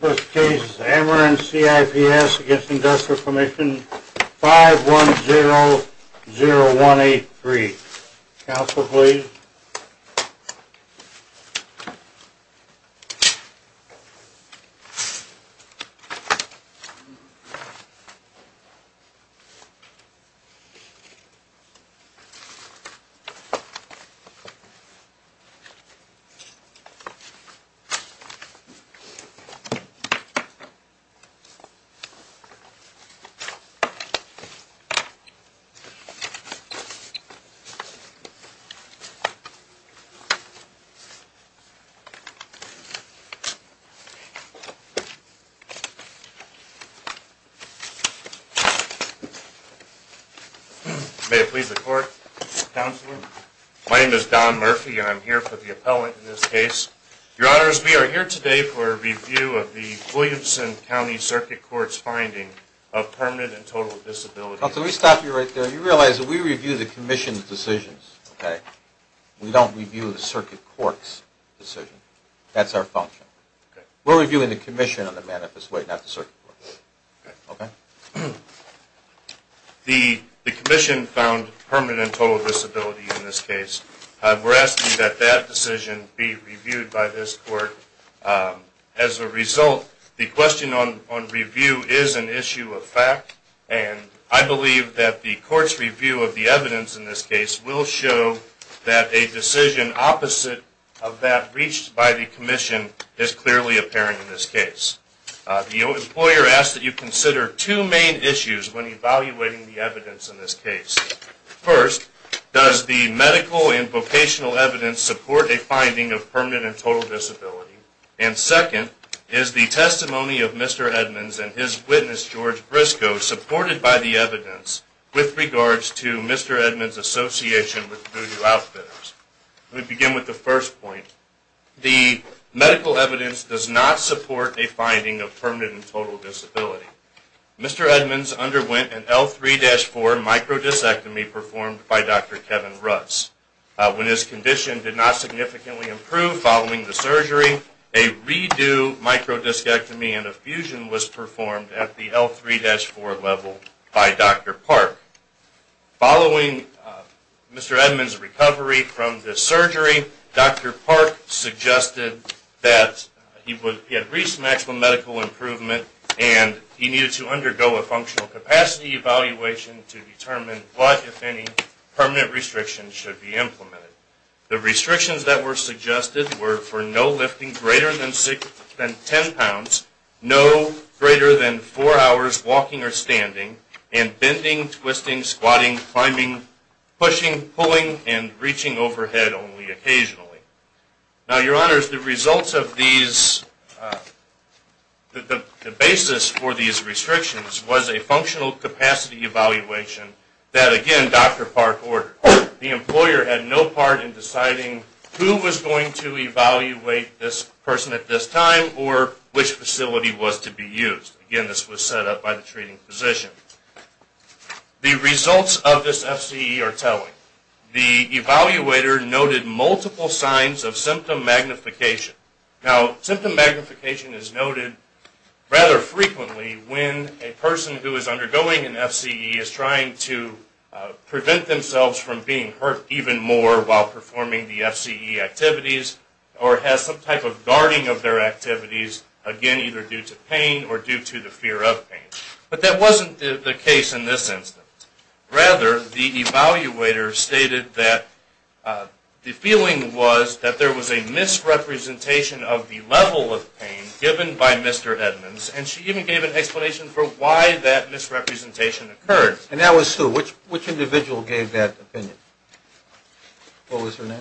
This case is Ameren CIPS v. Industrial Commission 5100183. Counsel, please. May it please the court. Counselor, my name is Don Murphy and I'm here for the appellate court in this case. Your Honors, we are here today for a review of the Williamson County Circuit Court's finding of permanent and total disability. Counsel, let me stop you right there. You realize that we review the Commission's decisions. We don't review the Circuit Court's decision. That's our function. We're reviewing the Commission on the manifest way, not the Circuit Court. The Commission found permanent and total disability in this case. We're asking that that decision be reviewed by this court. As a result, the question on review is an issue of fact, and I believe that the court's review of the evidence in this case will show that a decision opposite of that reached by the Commission is clearly apparent in this case. The employer asks that you consider two main issues when evaluating the evidence in this case. First, does the medical and vocational evidence support a finding of permanent and total disability? And second, is the testimony of Mr. Edmonds and his witness George Briscoe supported by the evidence with regards to Mr. Edmonds' association with voodoo outfitters? Let me begin with the first point. The medical evidence does not support a finding of permanent and total disability. Mr. Edmonds underwent an L3-4 microdiscectomy performed by Dr. Kevin Rutz. When his condition did not significantly improve following the surgery, a redo microdiscectomy and a fusion was performed at the L3-4 level by Dr. Park. Following Mr. Edmonds' recovery from the surgery, Dr. Park suggested that he had reached maximum medical improvement and he needed to undergo a functional capacity evaluation to determine what, if any, permanent restrictions should be implemented. The restrictions that were suggested were for no lifting greater than 10 pounds, no greater than 4 hours walking or standing, and bending, twisting, squatting, climbing, pushing, pulling, and reaching overhead only occasionally. Now, Your Honors, the results of these, the basis for these restrictions was a functional capacity evaluation that, again, Dr. Park ordered. The employer had no part in deciding who was going to evaluate this person at this time or which facility was to be used. Again, this was set up by the treating physician. The results of this FCE are telling. The evaluator noted multiple signs of symptom magnification. Now symptom magnification is noted rather frequently when a person who is undergoing an FCE is trying to prevent themselves from being hurt even more while performing the surgery due to pain or due to the fear of pain. But that wasn't the case in this instance. Rather, the evaluator stated that the feeling was that there was a misrepresentation of the level of pain given by Mr. Edmonds, and she even gave an explanation for why that misrepresentation occurred. And that was who? Which individual gave that opinion? What was her name?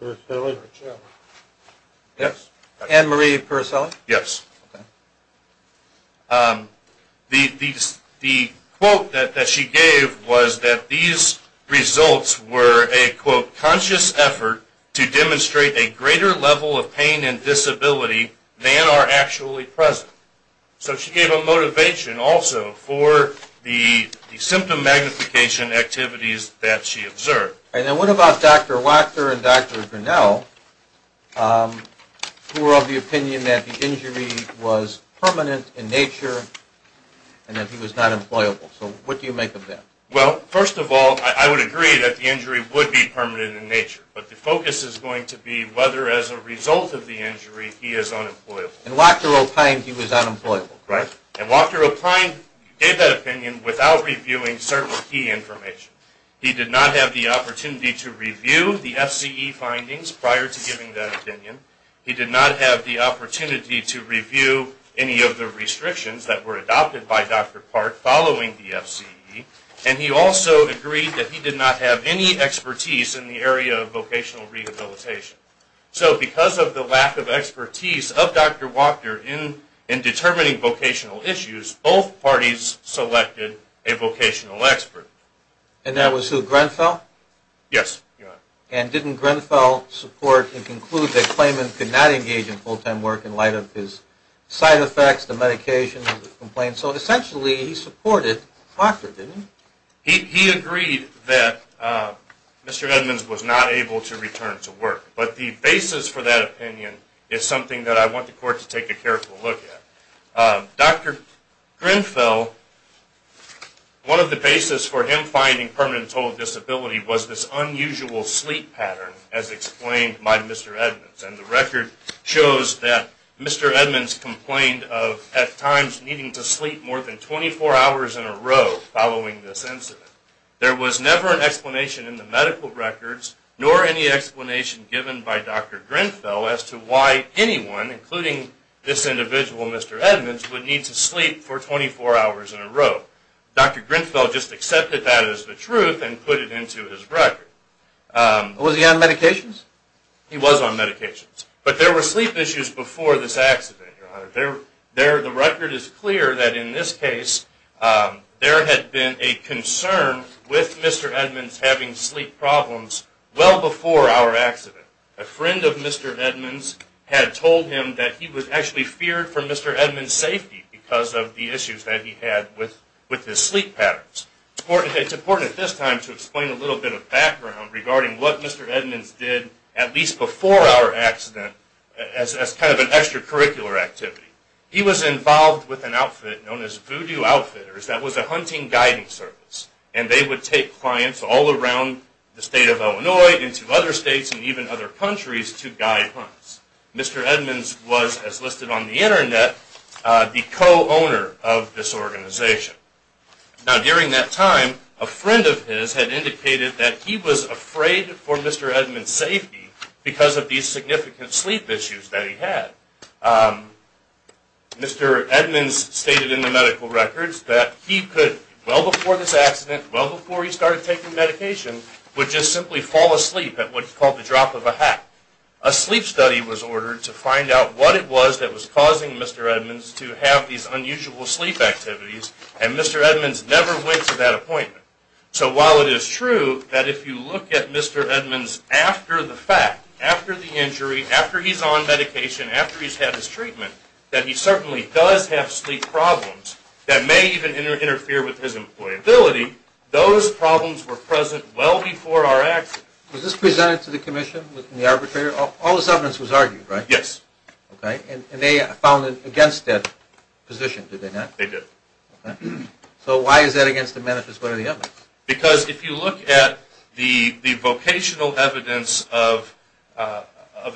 Anne-Marie Puricelli. Anne-Marie Puricelli? Yes. The quote that she gave was that these results were a, quote, conscious effort to demonstrate a greater level of pain and disability than are actually present. So she gave a motivation also for the symptom magnification activities that she observed. And then what about Dr. Wachter and Dr. Grinnell who were of the opinion that the injury was permanent in nature and that he was not employable? So what do you make of that? Well, first of all, I would agree that the injury would be permanent in nature. But the focus is going to be whether as a result of the injury he is unemployable. And Wachter opined he was unemployable. Right. And Wachter opined, gave that opinion without reviewing certain key information. He did not have the opportunity to review the FCE findings prior to giving that opinion. He did not have the opportunity to review any of the restrictions that were adopted by Dr. Park following the FCE. And he also agreed that he did not have any expertise in the area of vocational rehabilitation. So because of the lack of expertise of Dr. Wachter in determining vocational issues, both parties selected a vocational expert. And that was who, Grenfell? Yes, Your Honor. And didn't Grenfell support and conclude that Clayman could not engage in full-time work in light of his side effects, the medications, the complaints? So essentially he supported Wachter, didn't he? He agreed that Mr. Edmonds was not able to return to work. But the basis for that opinion is something that I want the Court to take a careful look at. Dr. Grenfell, one of the basis for him finding permanent total disability was this unusual sleep pattern as explained by Mr. Edmonds. And the record shows that Mr. Edmonds complained of at times needing to sleep more than 24 hours in a row following this incident. There was never an explanation in the medical records nor any explanation given by Dr. Grenfell as to why anyone, including this individual, Mr. Edmonds, would need to sleep for 24 hours in a row. Dr. Grenfell just accepted that as the truth and put it into his record. Was he on medications? He was on medications. But there were sleep issues before this accident, Your Honor. The record is clear that in this case there had been a concern with Mr. Edmonds having sleep problems well before our accident. A friend of Mr. Edmonds had told him that he was actually feared for Mr. Edmonds' safety because of the issues that he had with his sleep patterns. It's important at this time to explain a little bit of background regarding what Mr. Edmonds did at least before our accident as kind of an extracurricular activity. He was involved with an outfit known as Voodoo Outfitters that was a hunting guiding service. And they would take clients all around the state of Illinois and to other states and even other countries to guide hunts. Mr. Edmonds was, as listed on the Internet, the co-owner of this organization. Now during that time a friend of his had indicated that he was afraid for Mr. Edmonds' safety because of these significant sleep issues that he had. Mr. Edmonds stated in the medical records that he could, well before this accident, well before he started taking medication, would just simply fall asleep at what's called the drop of a hat. A sleep study was ordered to find out what it was that was causing Mr. Edmonds to have these unusual sleep activities and Mr. Edmonds never went to that appointment. So while it is true that if you look at Mr. Edmonds after the fact, after the injury, after he's on medication, after he's had his treatment, that he certainly does have sleep problems that may even interfere with his employability, those problems were present well before our accident. Was this presented to the Commission, the arbitrator? All this evidence was argued, right? Yes. Okay. And they found it against that position, did they not? They did. Okay. So why is that against the manifesto of the evidence? Because if you look at the vocational evidence of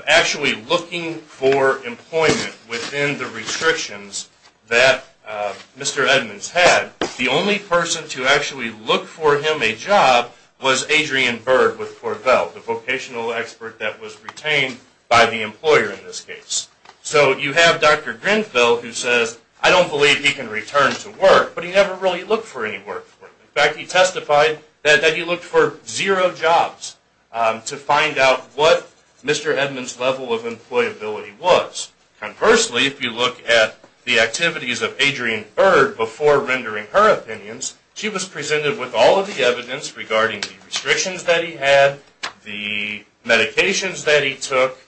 actually looking for employment within the restrictions that Mr. Edmonds had, the only person to actually look for him a job was Adrian Berg with Corvell, the vocational expert that was retained by the employer in this case. So you have Dr. Grinfeld who says, I don't believe he can return to work, but he never really looked for any work. In fact, he testified that he looked for zero jobs to find out what Mr. Edmonds' level of employability was. Conversely, if you look at the activities of Adrian Berg before rendering her opinions, she was presented with all of the evidence regarding the restrictions that he had, the medications that he took,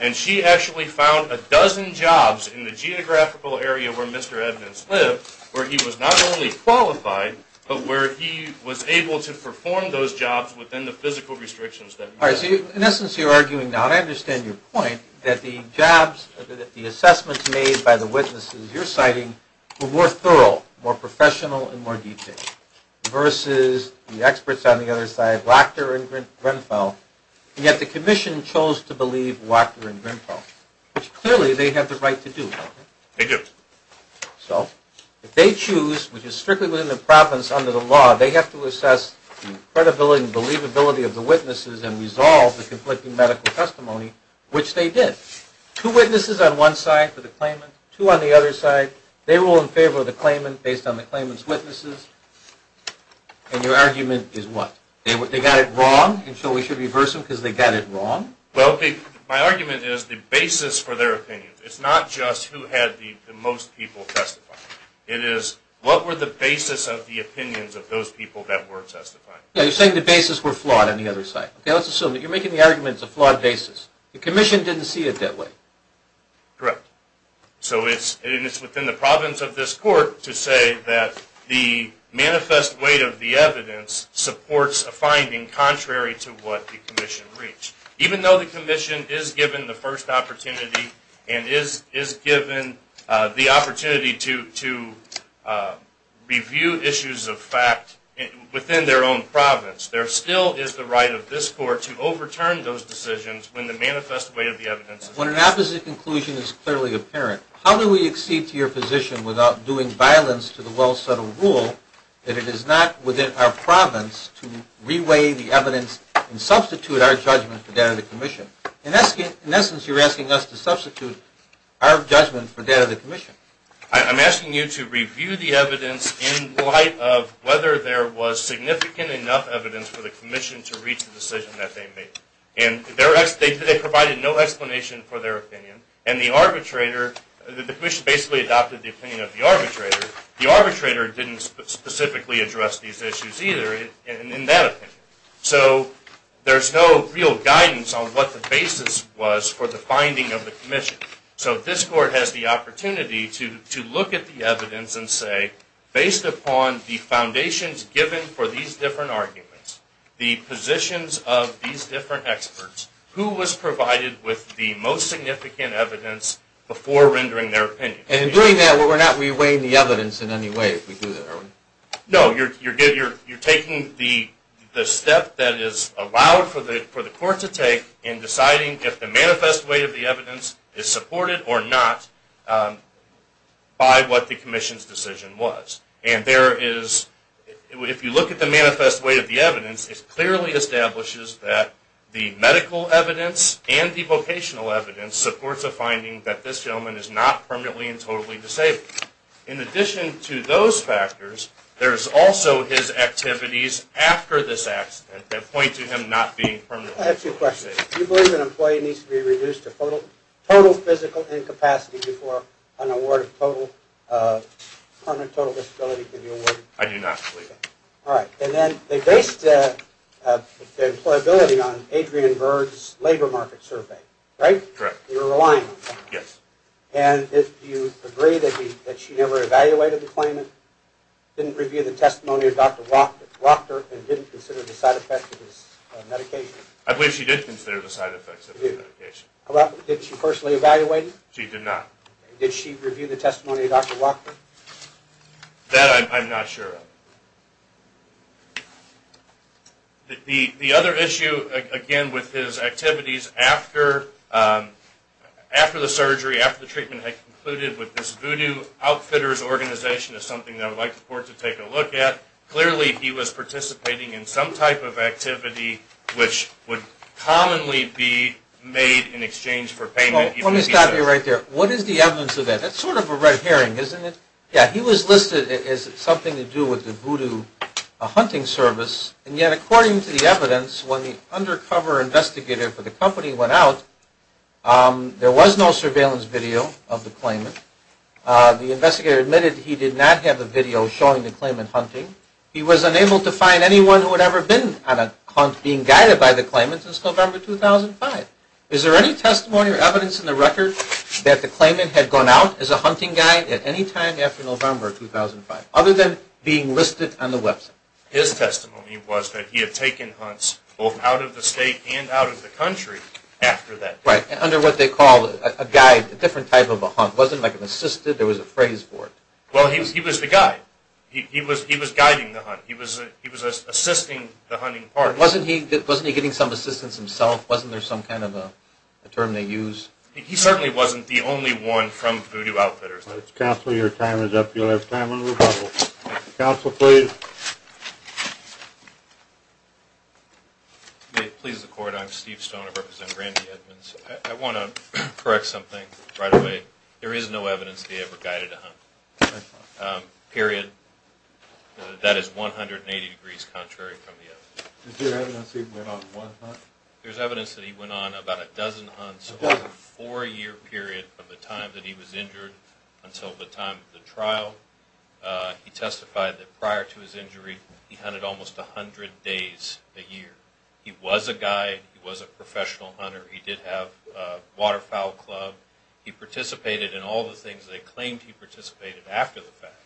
and she actually found a dozen jobs in the geographical area where Mr. Edmonds lived where he was not only qualified, but where he was able to perform those jobs within the physical restrictions that he had. All right, so in essence, you're arguing now, and I understand your point, that the jobs, that the assessments made by the witnesses you're citing were more thorough, more professional and more detailed, versus the experts on the other side, Wachter and Grinfeld, and yet the Commission chose to believe Wachter and Grinfeld, which clearly they have the right to do, don't they? They do. So if they choose, which is strictly within the province under the law, they have to assess the credibility and believability of the witnesses and resolve the conflicting medical testimony, which they did. Two witnesses on one side for the claimant, two on the other side. They rule in favor of the claimant based on the claimant's witnesses, and your argument is what? They got it wrong, and so we should reverse them because they got it wrong? Well, my argument is the basis for their opinions. It's not just who had the most people testify. It is, what were the basis of the opinions of those people that were testifying? Now, you're saying the basis were flawed on the other side. Okay, let's assume that you're making the argument it's a flawed basis. The Commission didn't see it that way. Correct. So it's within the province of this court to say that the manifest weight of the evidence supports a finding contrary to what the Commission reached. Even though the Commission is given the first opportunity, and is given the opportunity to review issues of fact within their own province, there still is the right of this court to overturn those decisions when the manifest weight of the evidence is different. When an opposite conclusion is clearly apparent, how do we accede to your position without doing violence to the well-settled rule that it is not within our province to re-weigh the evidence and substitute our judgment for that of the Commission? In essence, you're asking us to substitute our judgment for that of the Commission. I'm asking you to review the evidence in light of whether there was significant enough evidence for the Commission to reach the decision that they made. They provided no explanation for their opinion, and the arbitrator, the Commission basically adopted the opinion of the arbitrator. The arbitrator didn't specifically address these issues either in that opinion. So there's no real guidance on what the basis was for the finding of the Commission. So this court has the opportunity to look at the evidence and say, based upon the foundations given for these different arguments, the positions of these different experts, who was provided with the most significant evidence before rendering their opinion. And in doing that, we're not re-weighing the evidence in any way if we do that, are we? No, you're taking the step that is allowed for the court to take in deciding if the manifest way of the evidence is supported or not by what the Commission's decision was. And if you look at the manifest way of the evidence, it clearly establishes that the medical evidence and the vocational evidence supports a finding that this gentleman is not permanently and totally disabled. In addition to those factors, there's also his activities after this accident that point to him not being permanently and totally disabled. I have two questions. Do you believe an employee needs to be reduced to total physical incapacity before an award of permanent total disability can be awarded? I do not believe that. All right. And then they based the employability on Adrian Bird's labor market survey, right? Correct. You were relying on him. Yes. And do you agree that she never evaluated the claimant, didn't review the testimony of Dr. Wachter, and didn't consider the side effects of his medication? I believe she did consider the side effects of his medication. Did she personally evaluate him? She did not. Did she review the testimony of Dr. Wachter? That I'm not sure of. The other issue, again, with his activities after the surgery, after the treatment had concluded with this voodoo outfitters organization is something that I would like the court to take a look at. Clearly, he was participating in some type of activity which would commonly be made in exchange for payment. Let me stop you right there. What is the evidence of that? That's sort of a red herring, isn't it? Yeah. He was listed as something to do with the voodoo outfitters. He was listed as something to do with the voodoo hunting service. And yet, according to the evidence, when the undercover investigator for the company went out, there was no surveillance video of the claimant. The investigator admitted he did not have a video showing the claimant hunting. He was unable to find anyone who had ever been on a hunt being guided by the claimant since November 2005. Is there any testimony or evidence in the record that the claimant had gone out as a His testimony was that he had taken hunts both out of the state and out of the country after that. Right. Under what they call a guide, a different type of a hunt. It wasn't like an assistant. There was a phrase for it. Well, he was the guide. He was guiding the hunt. He was assisting the hunting party. Wasn't he getting some assistance himself? Wasn't there some kind of a term they use? He certainly wasn't the only one from voodoo outfitters. Counsel, your time is up. You'll have time in a little while. Counsel, please. May it please the court. I'm Steve Stone. I represent Randy Edmonds. I want to correct something right away. There is no evidence that he ever guided a hunt. Period. That is 180 degrees contrary from the evidence. Is there evidence he went on one hunt? There's evidence that he went on about a dozen hunts over a four-year period of the time that he was injured until the time of the trial. He testified that prior to his injury, he hunted almost 100 days a year. He was a guide. He was a professional hunter. He did have a waterfowl club. He participated in all the things they claimed he participated after the fact.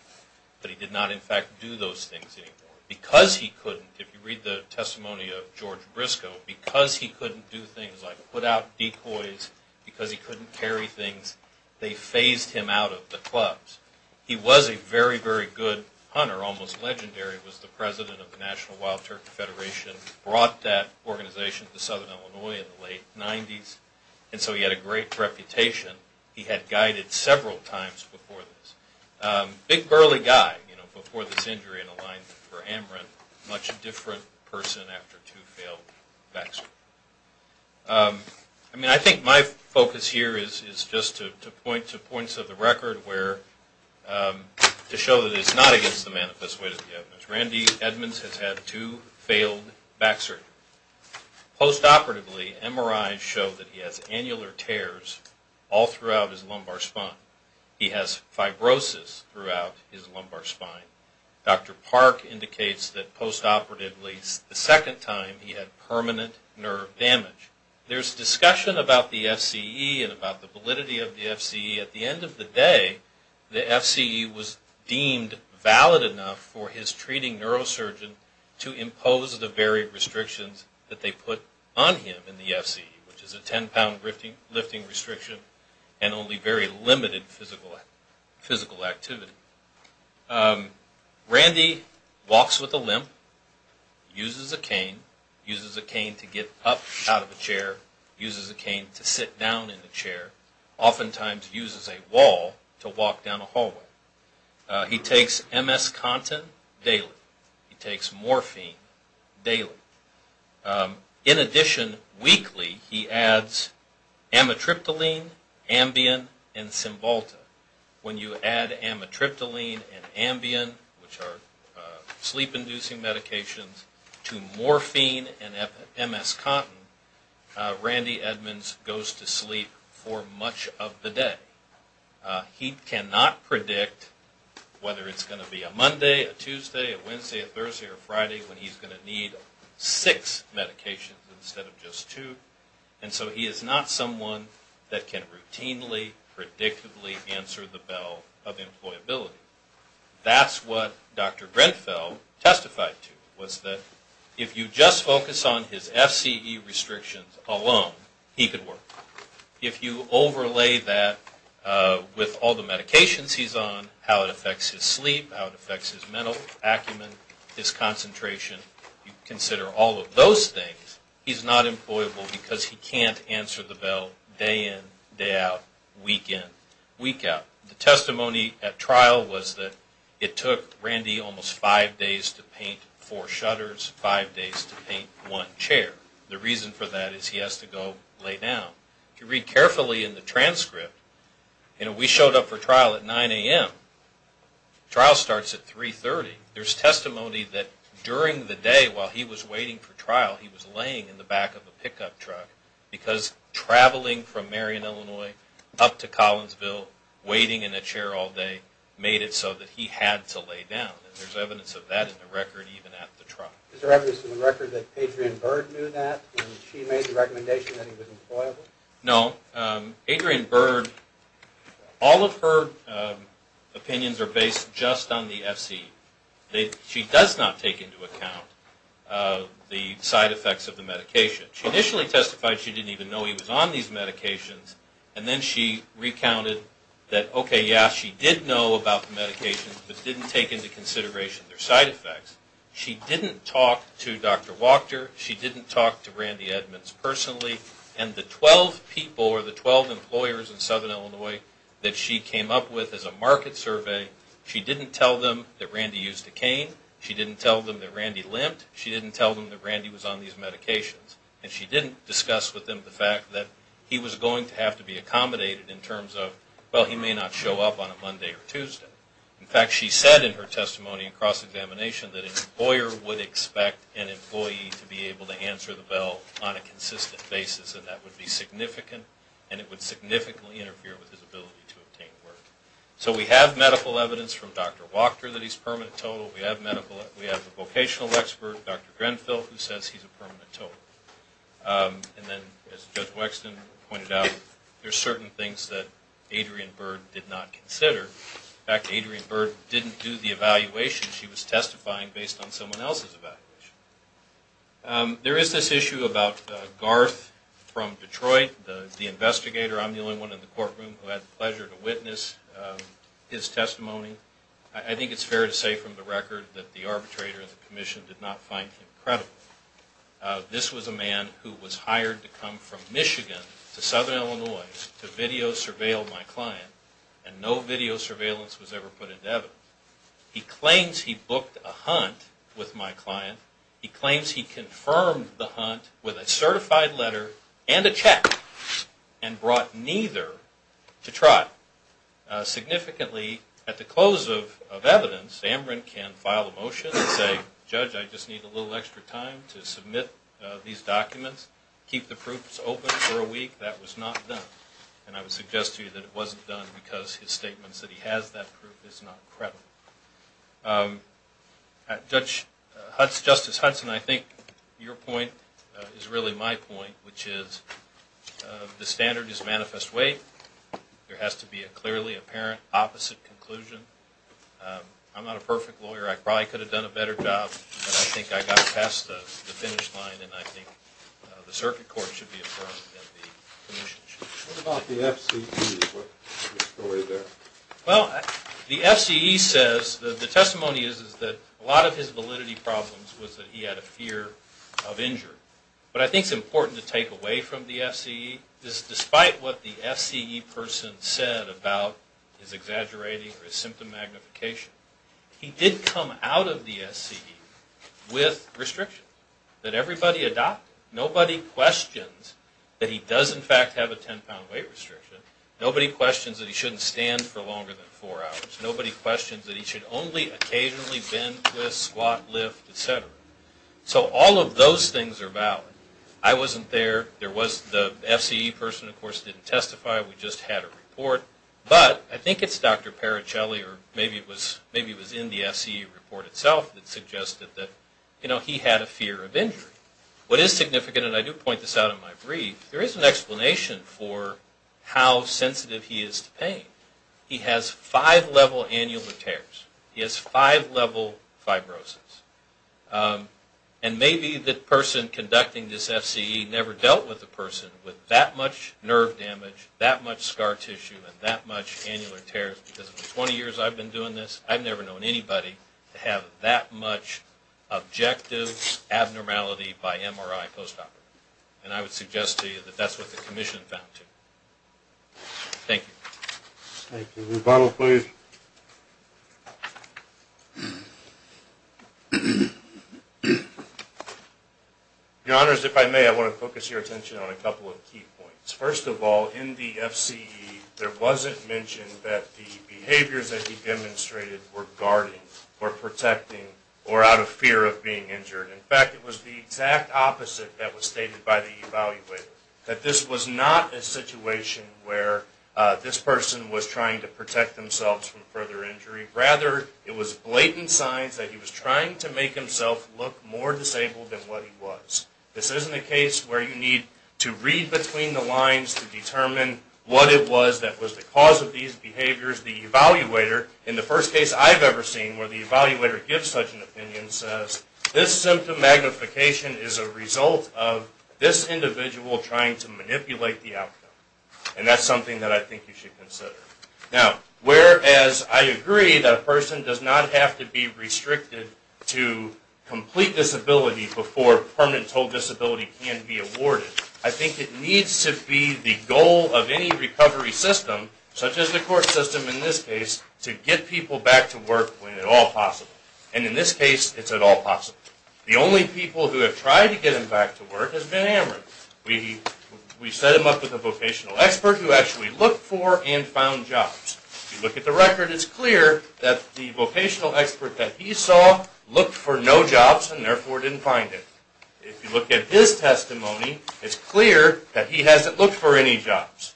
But he did not, in fact, do those things anymore. Because he couldn't, if you read the testimony of George Briscoe, because he couldn't do things like put out decoys, because he couldn't carry things, they phased him out of the clubs. He was a very, very good hunter. Almost legendary. He was the president of the National Wild Turkey Federation. Brought that organization to Southern Illinois in the late 90s. And so he had a great reputation. He had guided several times before this. Big, girly guy, you know, before this injury in alignment for amaranth. Much different person after two failed vexed. I mean, I think my focus here is just to point to points of the record to show that it's not against the manifest way of the evidence. Randy Edmonds has had two failed back surgery. Post-operatively, MRIs show that he has annular tears all throughout his lumbar spine. He has fibrosis throughout his lumbar spine. Dr. Park indicates that post-operatively, the second time he had permanent nerve damage. There's discussion about the FCE and about the validity of the FCE. At the end of the day, the FCE was deemed valid enough for his treating neurosurgeon to impose the varied restrictions that they put on him in the FCE, which is a 10-pound lifting restriction and only very limited physical activity. Randy walks with a limp. Uses a cane. Uses a cane to get up out of a chair. Uses a cane to sit down in a chair. Oftentimes uses a wall to walk down a hallway. He takes MS content daily. He takes morphine daily. In addition, weekly, he adds amitriptyline, Ambien, and Cymbalta. When you add amitriptyline and Ambien, which are sleep-inducing medications, to morphine and MS content, Randy Edmonds goes to sleep for much of the day. He cannot predict whether it's going to be a Monday, a Tuesday, a Wednesday, a Thursday, or a Friday, when he's going to need six medications instead of just two. And so he is not someone that can routinely, predictably answer the bell of employability. That's what Dr. Grenfell testified to, was that if you just focus on his FCE restrictions alone, he could work. If you overlay that with all the medications he's on, how it affects his sleep, how it affects his mental acumen, his concentration, you consider all of those things, he's not employable because he can't answer the bell day in, day out, week in, week out. The testimony at trial was that it took Randy almost five days to paint four shutters, five days to paint one chair. The reason for that is he has to go lay down. If you read carefully in the transcript, we showed up for trial at 9 a.m. Trial starts at 3.30. There's testimony that during the day, while he was waiting for trial, he was laying in the back of a pickup truck because traveling from Marion, Illinois, up to Collinsville, waiting in a chair all day, made it so that he had to lay down. There's evidence of that in the record even at the trial. Is there evidence in the record that Adrienne Bird knew that and she made the recommendation that he was employable? No. Adrienne Bird, all of her opinions are based just on the FCE. She does not take into account the side effects of the medication. She initially testified she didn't even know he was on these medications and then she recounted that, okay, yeah, she did know about the medications but didn't take into consideration their side effects. She didn't talk to Dr. Wachter. She didn't talk to Randy Edmonds personally. And the 12 people or the 12 employers in Southern Illinois that she came up with as a market survey, she didn't tell them that Randy used a cane. She didn't tell them that Randy limped. She didn't tell them that Randy was on these medications. And she didn't discuss with them the fact that he was going to have to be accommodated in terms of, well, he may not show up on a Monday or Tuesday. In fact, she said in her testimony in cross-examination that an employer would expect an employee to be able to answer the bell on a consistent basis and that would be significant and it would significantly interfere with his ability to obtain work. So we have medical evidence from Dr. Wachter that he's permanent total. We have a vocational expert, Dr. Grenfell, who says he's a permanent total. And then, as Judge Wexton pointed out, there are certain things that Adrienne Byrd did not consider. In fact, Adrienne Byrd didn't do the evaluation. She was testifying based on someone else's evaluation. There is this issue about Garth from Detroit, the investigator. I'm the only one in the courtroom who had the pleasure to witness his testimony. I think it's fair to say from the record that the arbitrator and the commission did not find him credible. This was a man who was hired to come from Michigan to Southern Illinois to video-surveil my client and no video surveillance was ever put into evidence. He claims he booked a hunt with my client. He claims he confirmed the hunt with a certified letter and a check and brought neither to trot. Significantly, at the close of evidence, Amron can file a motion and say, Judge, I just need a little extra time to submit these documents, keep the proofs open for a week. That was not done. And I would suggest to you that it wasn't done because his statements that he has that proof is not credible. Justice Hudson, I think your point is really my point, which is the standard is manifest way. There has to be a clearly apparent opposite conclusion. I'm not a perfect lawyer. I probably could have done a better job but I think I got past the finish line and I think the circuit court should be affirmed and the commission should be affirmed. What about the FCE? The testimony is that a lot of his validity problems was that he had a fear of injury. What I think is important to take away from the FCE is despite what the FCE person said about his exaggerating or his symptom magnification, he did come out of the FCE with restrictions that everybody adopted. Nobody questions that he does in fact have a 10 pound weight restriction. Nobody questions that he shouldn't stand for longer than 4 hours. Nobody questions that he should only occasionally bend, twist, squat, lift, etc. So all of those things are valid. I wasn't there. The FCE person of course didn't testify. We just had a report. But I think it's Dr. Paricelli or maybe it was in the FCE report itself that suggested that he had a fear of injury. What is significant, and I do point this out in my brief, there is an explanation for how sensitive he is to pain. He has 5 level annular tears. He has 5 level fibrosis. And maybe the person conducting this FCE never dealt with a person with that much nerve damage, that much scar tissue, and that much annular tears because for 20 years I've been doing this I've never known anybody to have that much objective abnormality by MRI post-op. And I would suggest to you that that's what the commission found too. Thank you. Thank you. Rebuttal please. Your Honors, if I may, I want to focus your attention on a couple of key points. First of all, in the FCE there wasn't mention that the behaviors that he demonstrated were guarding or protecting or out of fear of being injured. In fact, it was the exact opposite that was stated by the evaluator. That this was not a situation where this person was trying to protect themselves from further injury. Rather, it was blatant signs that he was trying to make himself look more disabled than what he was. This isn't a case where you need to read between the lines to determine what it was that was the cause of these behaviors. The evaluator in the first case I've ever seen where the evaluator gives such an opinion says, this symptom magnification is a result of this individual trying to manipulate the outcome. And that's something that I think you should consider. Now, whereas I agree that a person does not have to be restricted to complete disability before permanent total disability can be awarded. I think it needs to be the goal of any recovery system such as the court system in this case to get people back to work when at all possible. And in this case it's at all possible. The only people who have tried to get him back to work has been Ameren. We set him up with a vocational expert who actually looked for and found jobs. If you look at the record, it's clear that the vocational expert that he saw looked for no jobs and therefore didn't find it. If you look at his testimony, it's clear that he hasn't looked for any jobs.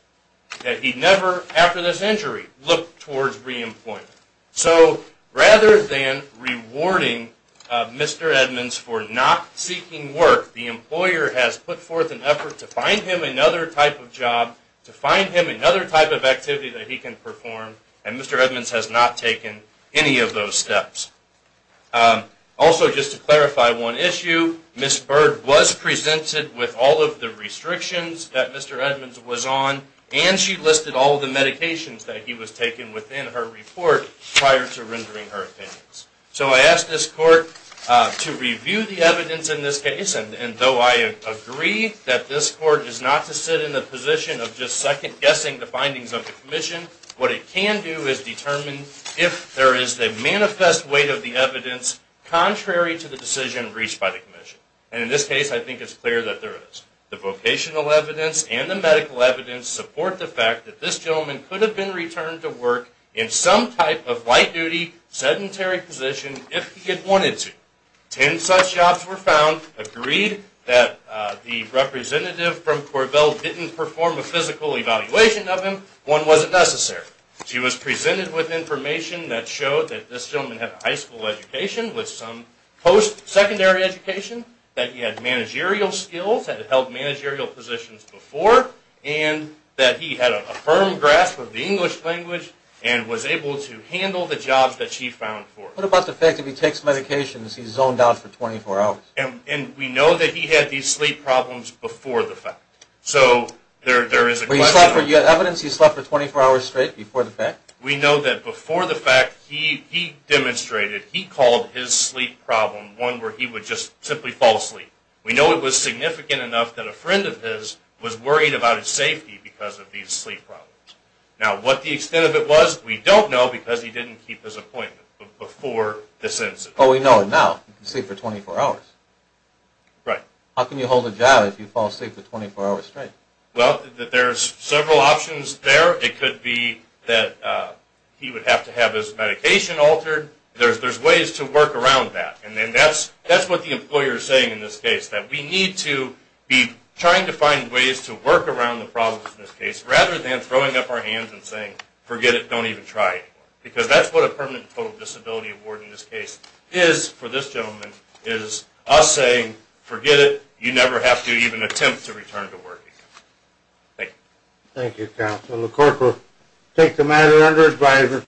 That he never, after this injury, looked towards re-employment. So, rather than rewarding Mr. Edmonds for not seeking work, the employer has put forth an effort to find him another type of job, to find him another type of activity that he can perform, and Mr. Edmonds has not taken any of those steps. Also, just to clarify one issue, Ms. Bird was presented with all of the restrictions that Mr. Edmonds was on and she listed all of the medications that he was taking within her report prior to rendering her opinions. So, I asked this court to review the evidence in this case and though I agree that this court is not to sit in the position of just second guessing the findings of the commission, what it can do is determine if there is a manifest weight of the evidence contrary to the decision reached by the commission. And in this case, I think it's clear that there is. The vocational evidence and the medical evidence support the fact that this gentleman could have been returned to work in some type of light duty, sedentary position if he had wanted to. Ten such jobs were found, agreed that the representative from Corbell didn't perform a physical evaluation of him, one wasn't necessary. She was presented with information that showed that this gentleman had a high school education with some post-secondary education, that he had managerial skills, had held managerial positions before, and that he had a firm grasp of the English language and was able to handle the jobs that she found for him. What about the fact that he takes medications, he's zoned out for 24 hours? And we know that he had these sleep problems before the fact. So, there is a question... You have evidence he slept for 24 hours straight before the fact? We know that before the fact he demonstrated, he called his sleep problem one where he would just simply fall asleep. We know it was significant enough that a friend of his was worried about his safety because of these sleep problems. Now, what the extent of it was, we don't know because he didn't keep his appointment before this incident. But we know now, he can sleep for 24 hours. How can you hold a job if you fall asleep for 24 hours straight? Well, there's several options there. It could be that he would have to have his medication altered. There's ways to work around that. And that's what the employer is saying in this case. That we need to be trying to find ways to work around the problems in this case, rather than throwing up our hands and saying, forget it, don't even try it. Because that's what a permanent total disability award in this case is for this gentleman, is us saying, forget it, you never have to even attempt to return to work again. Thank you. Thank you, Counselor.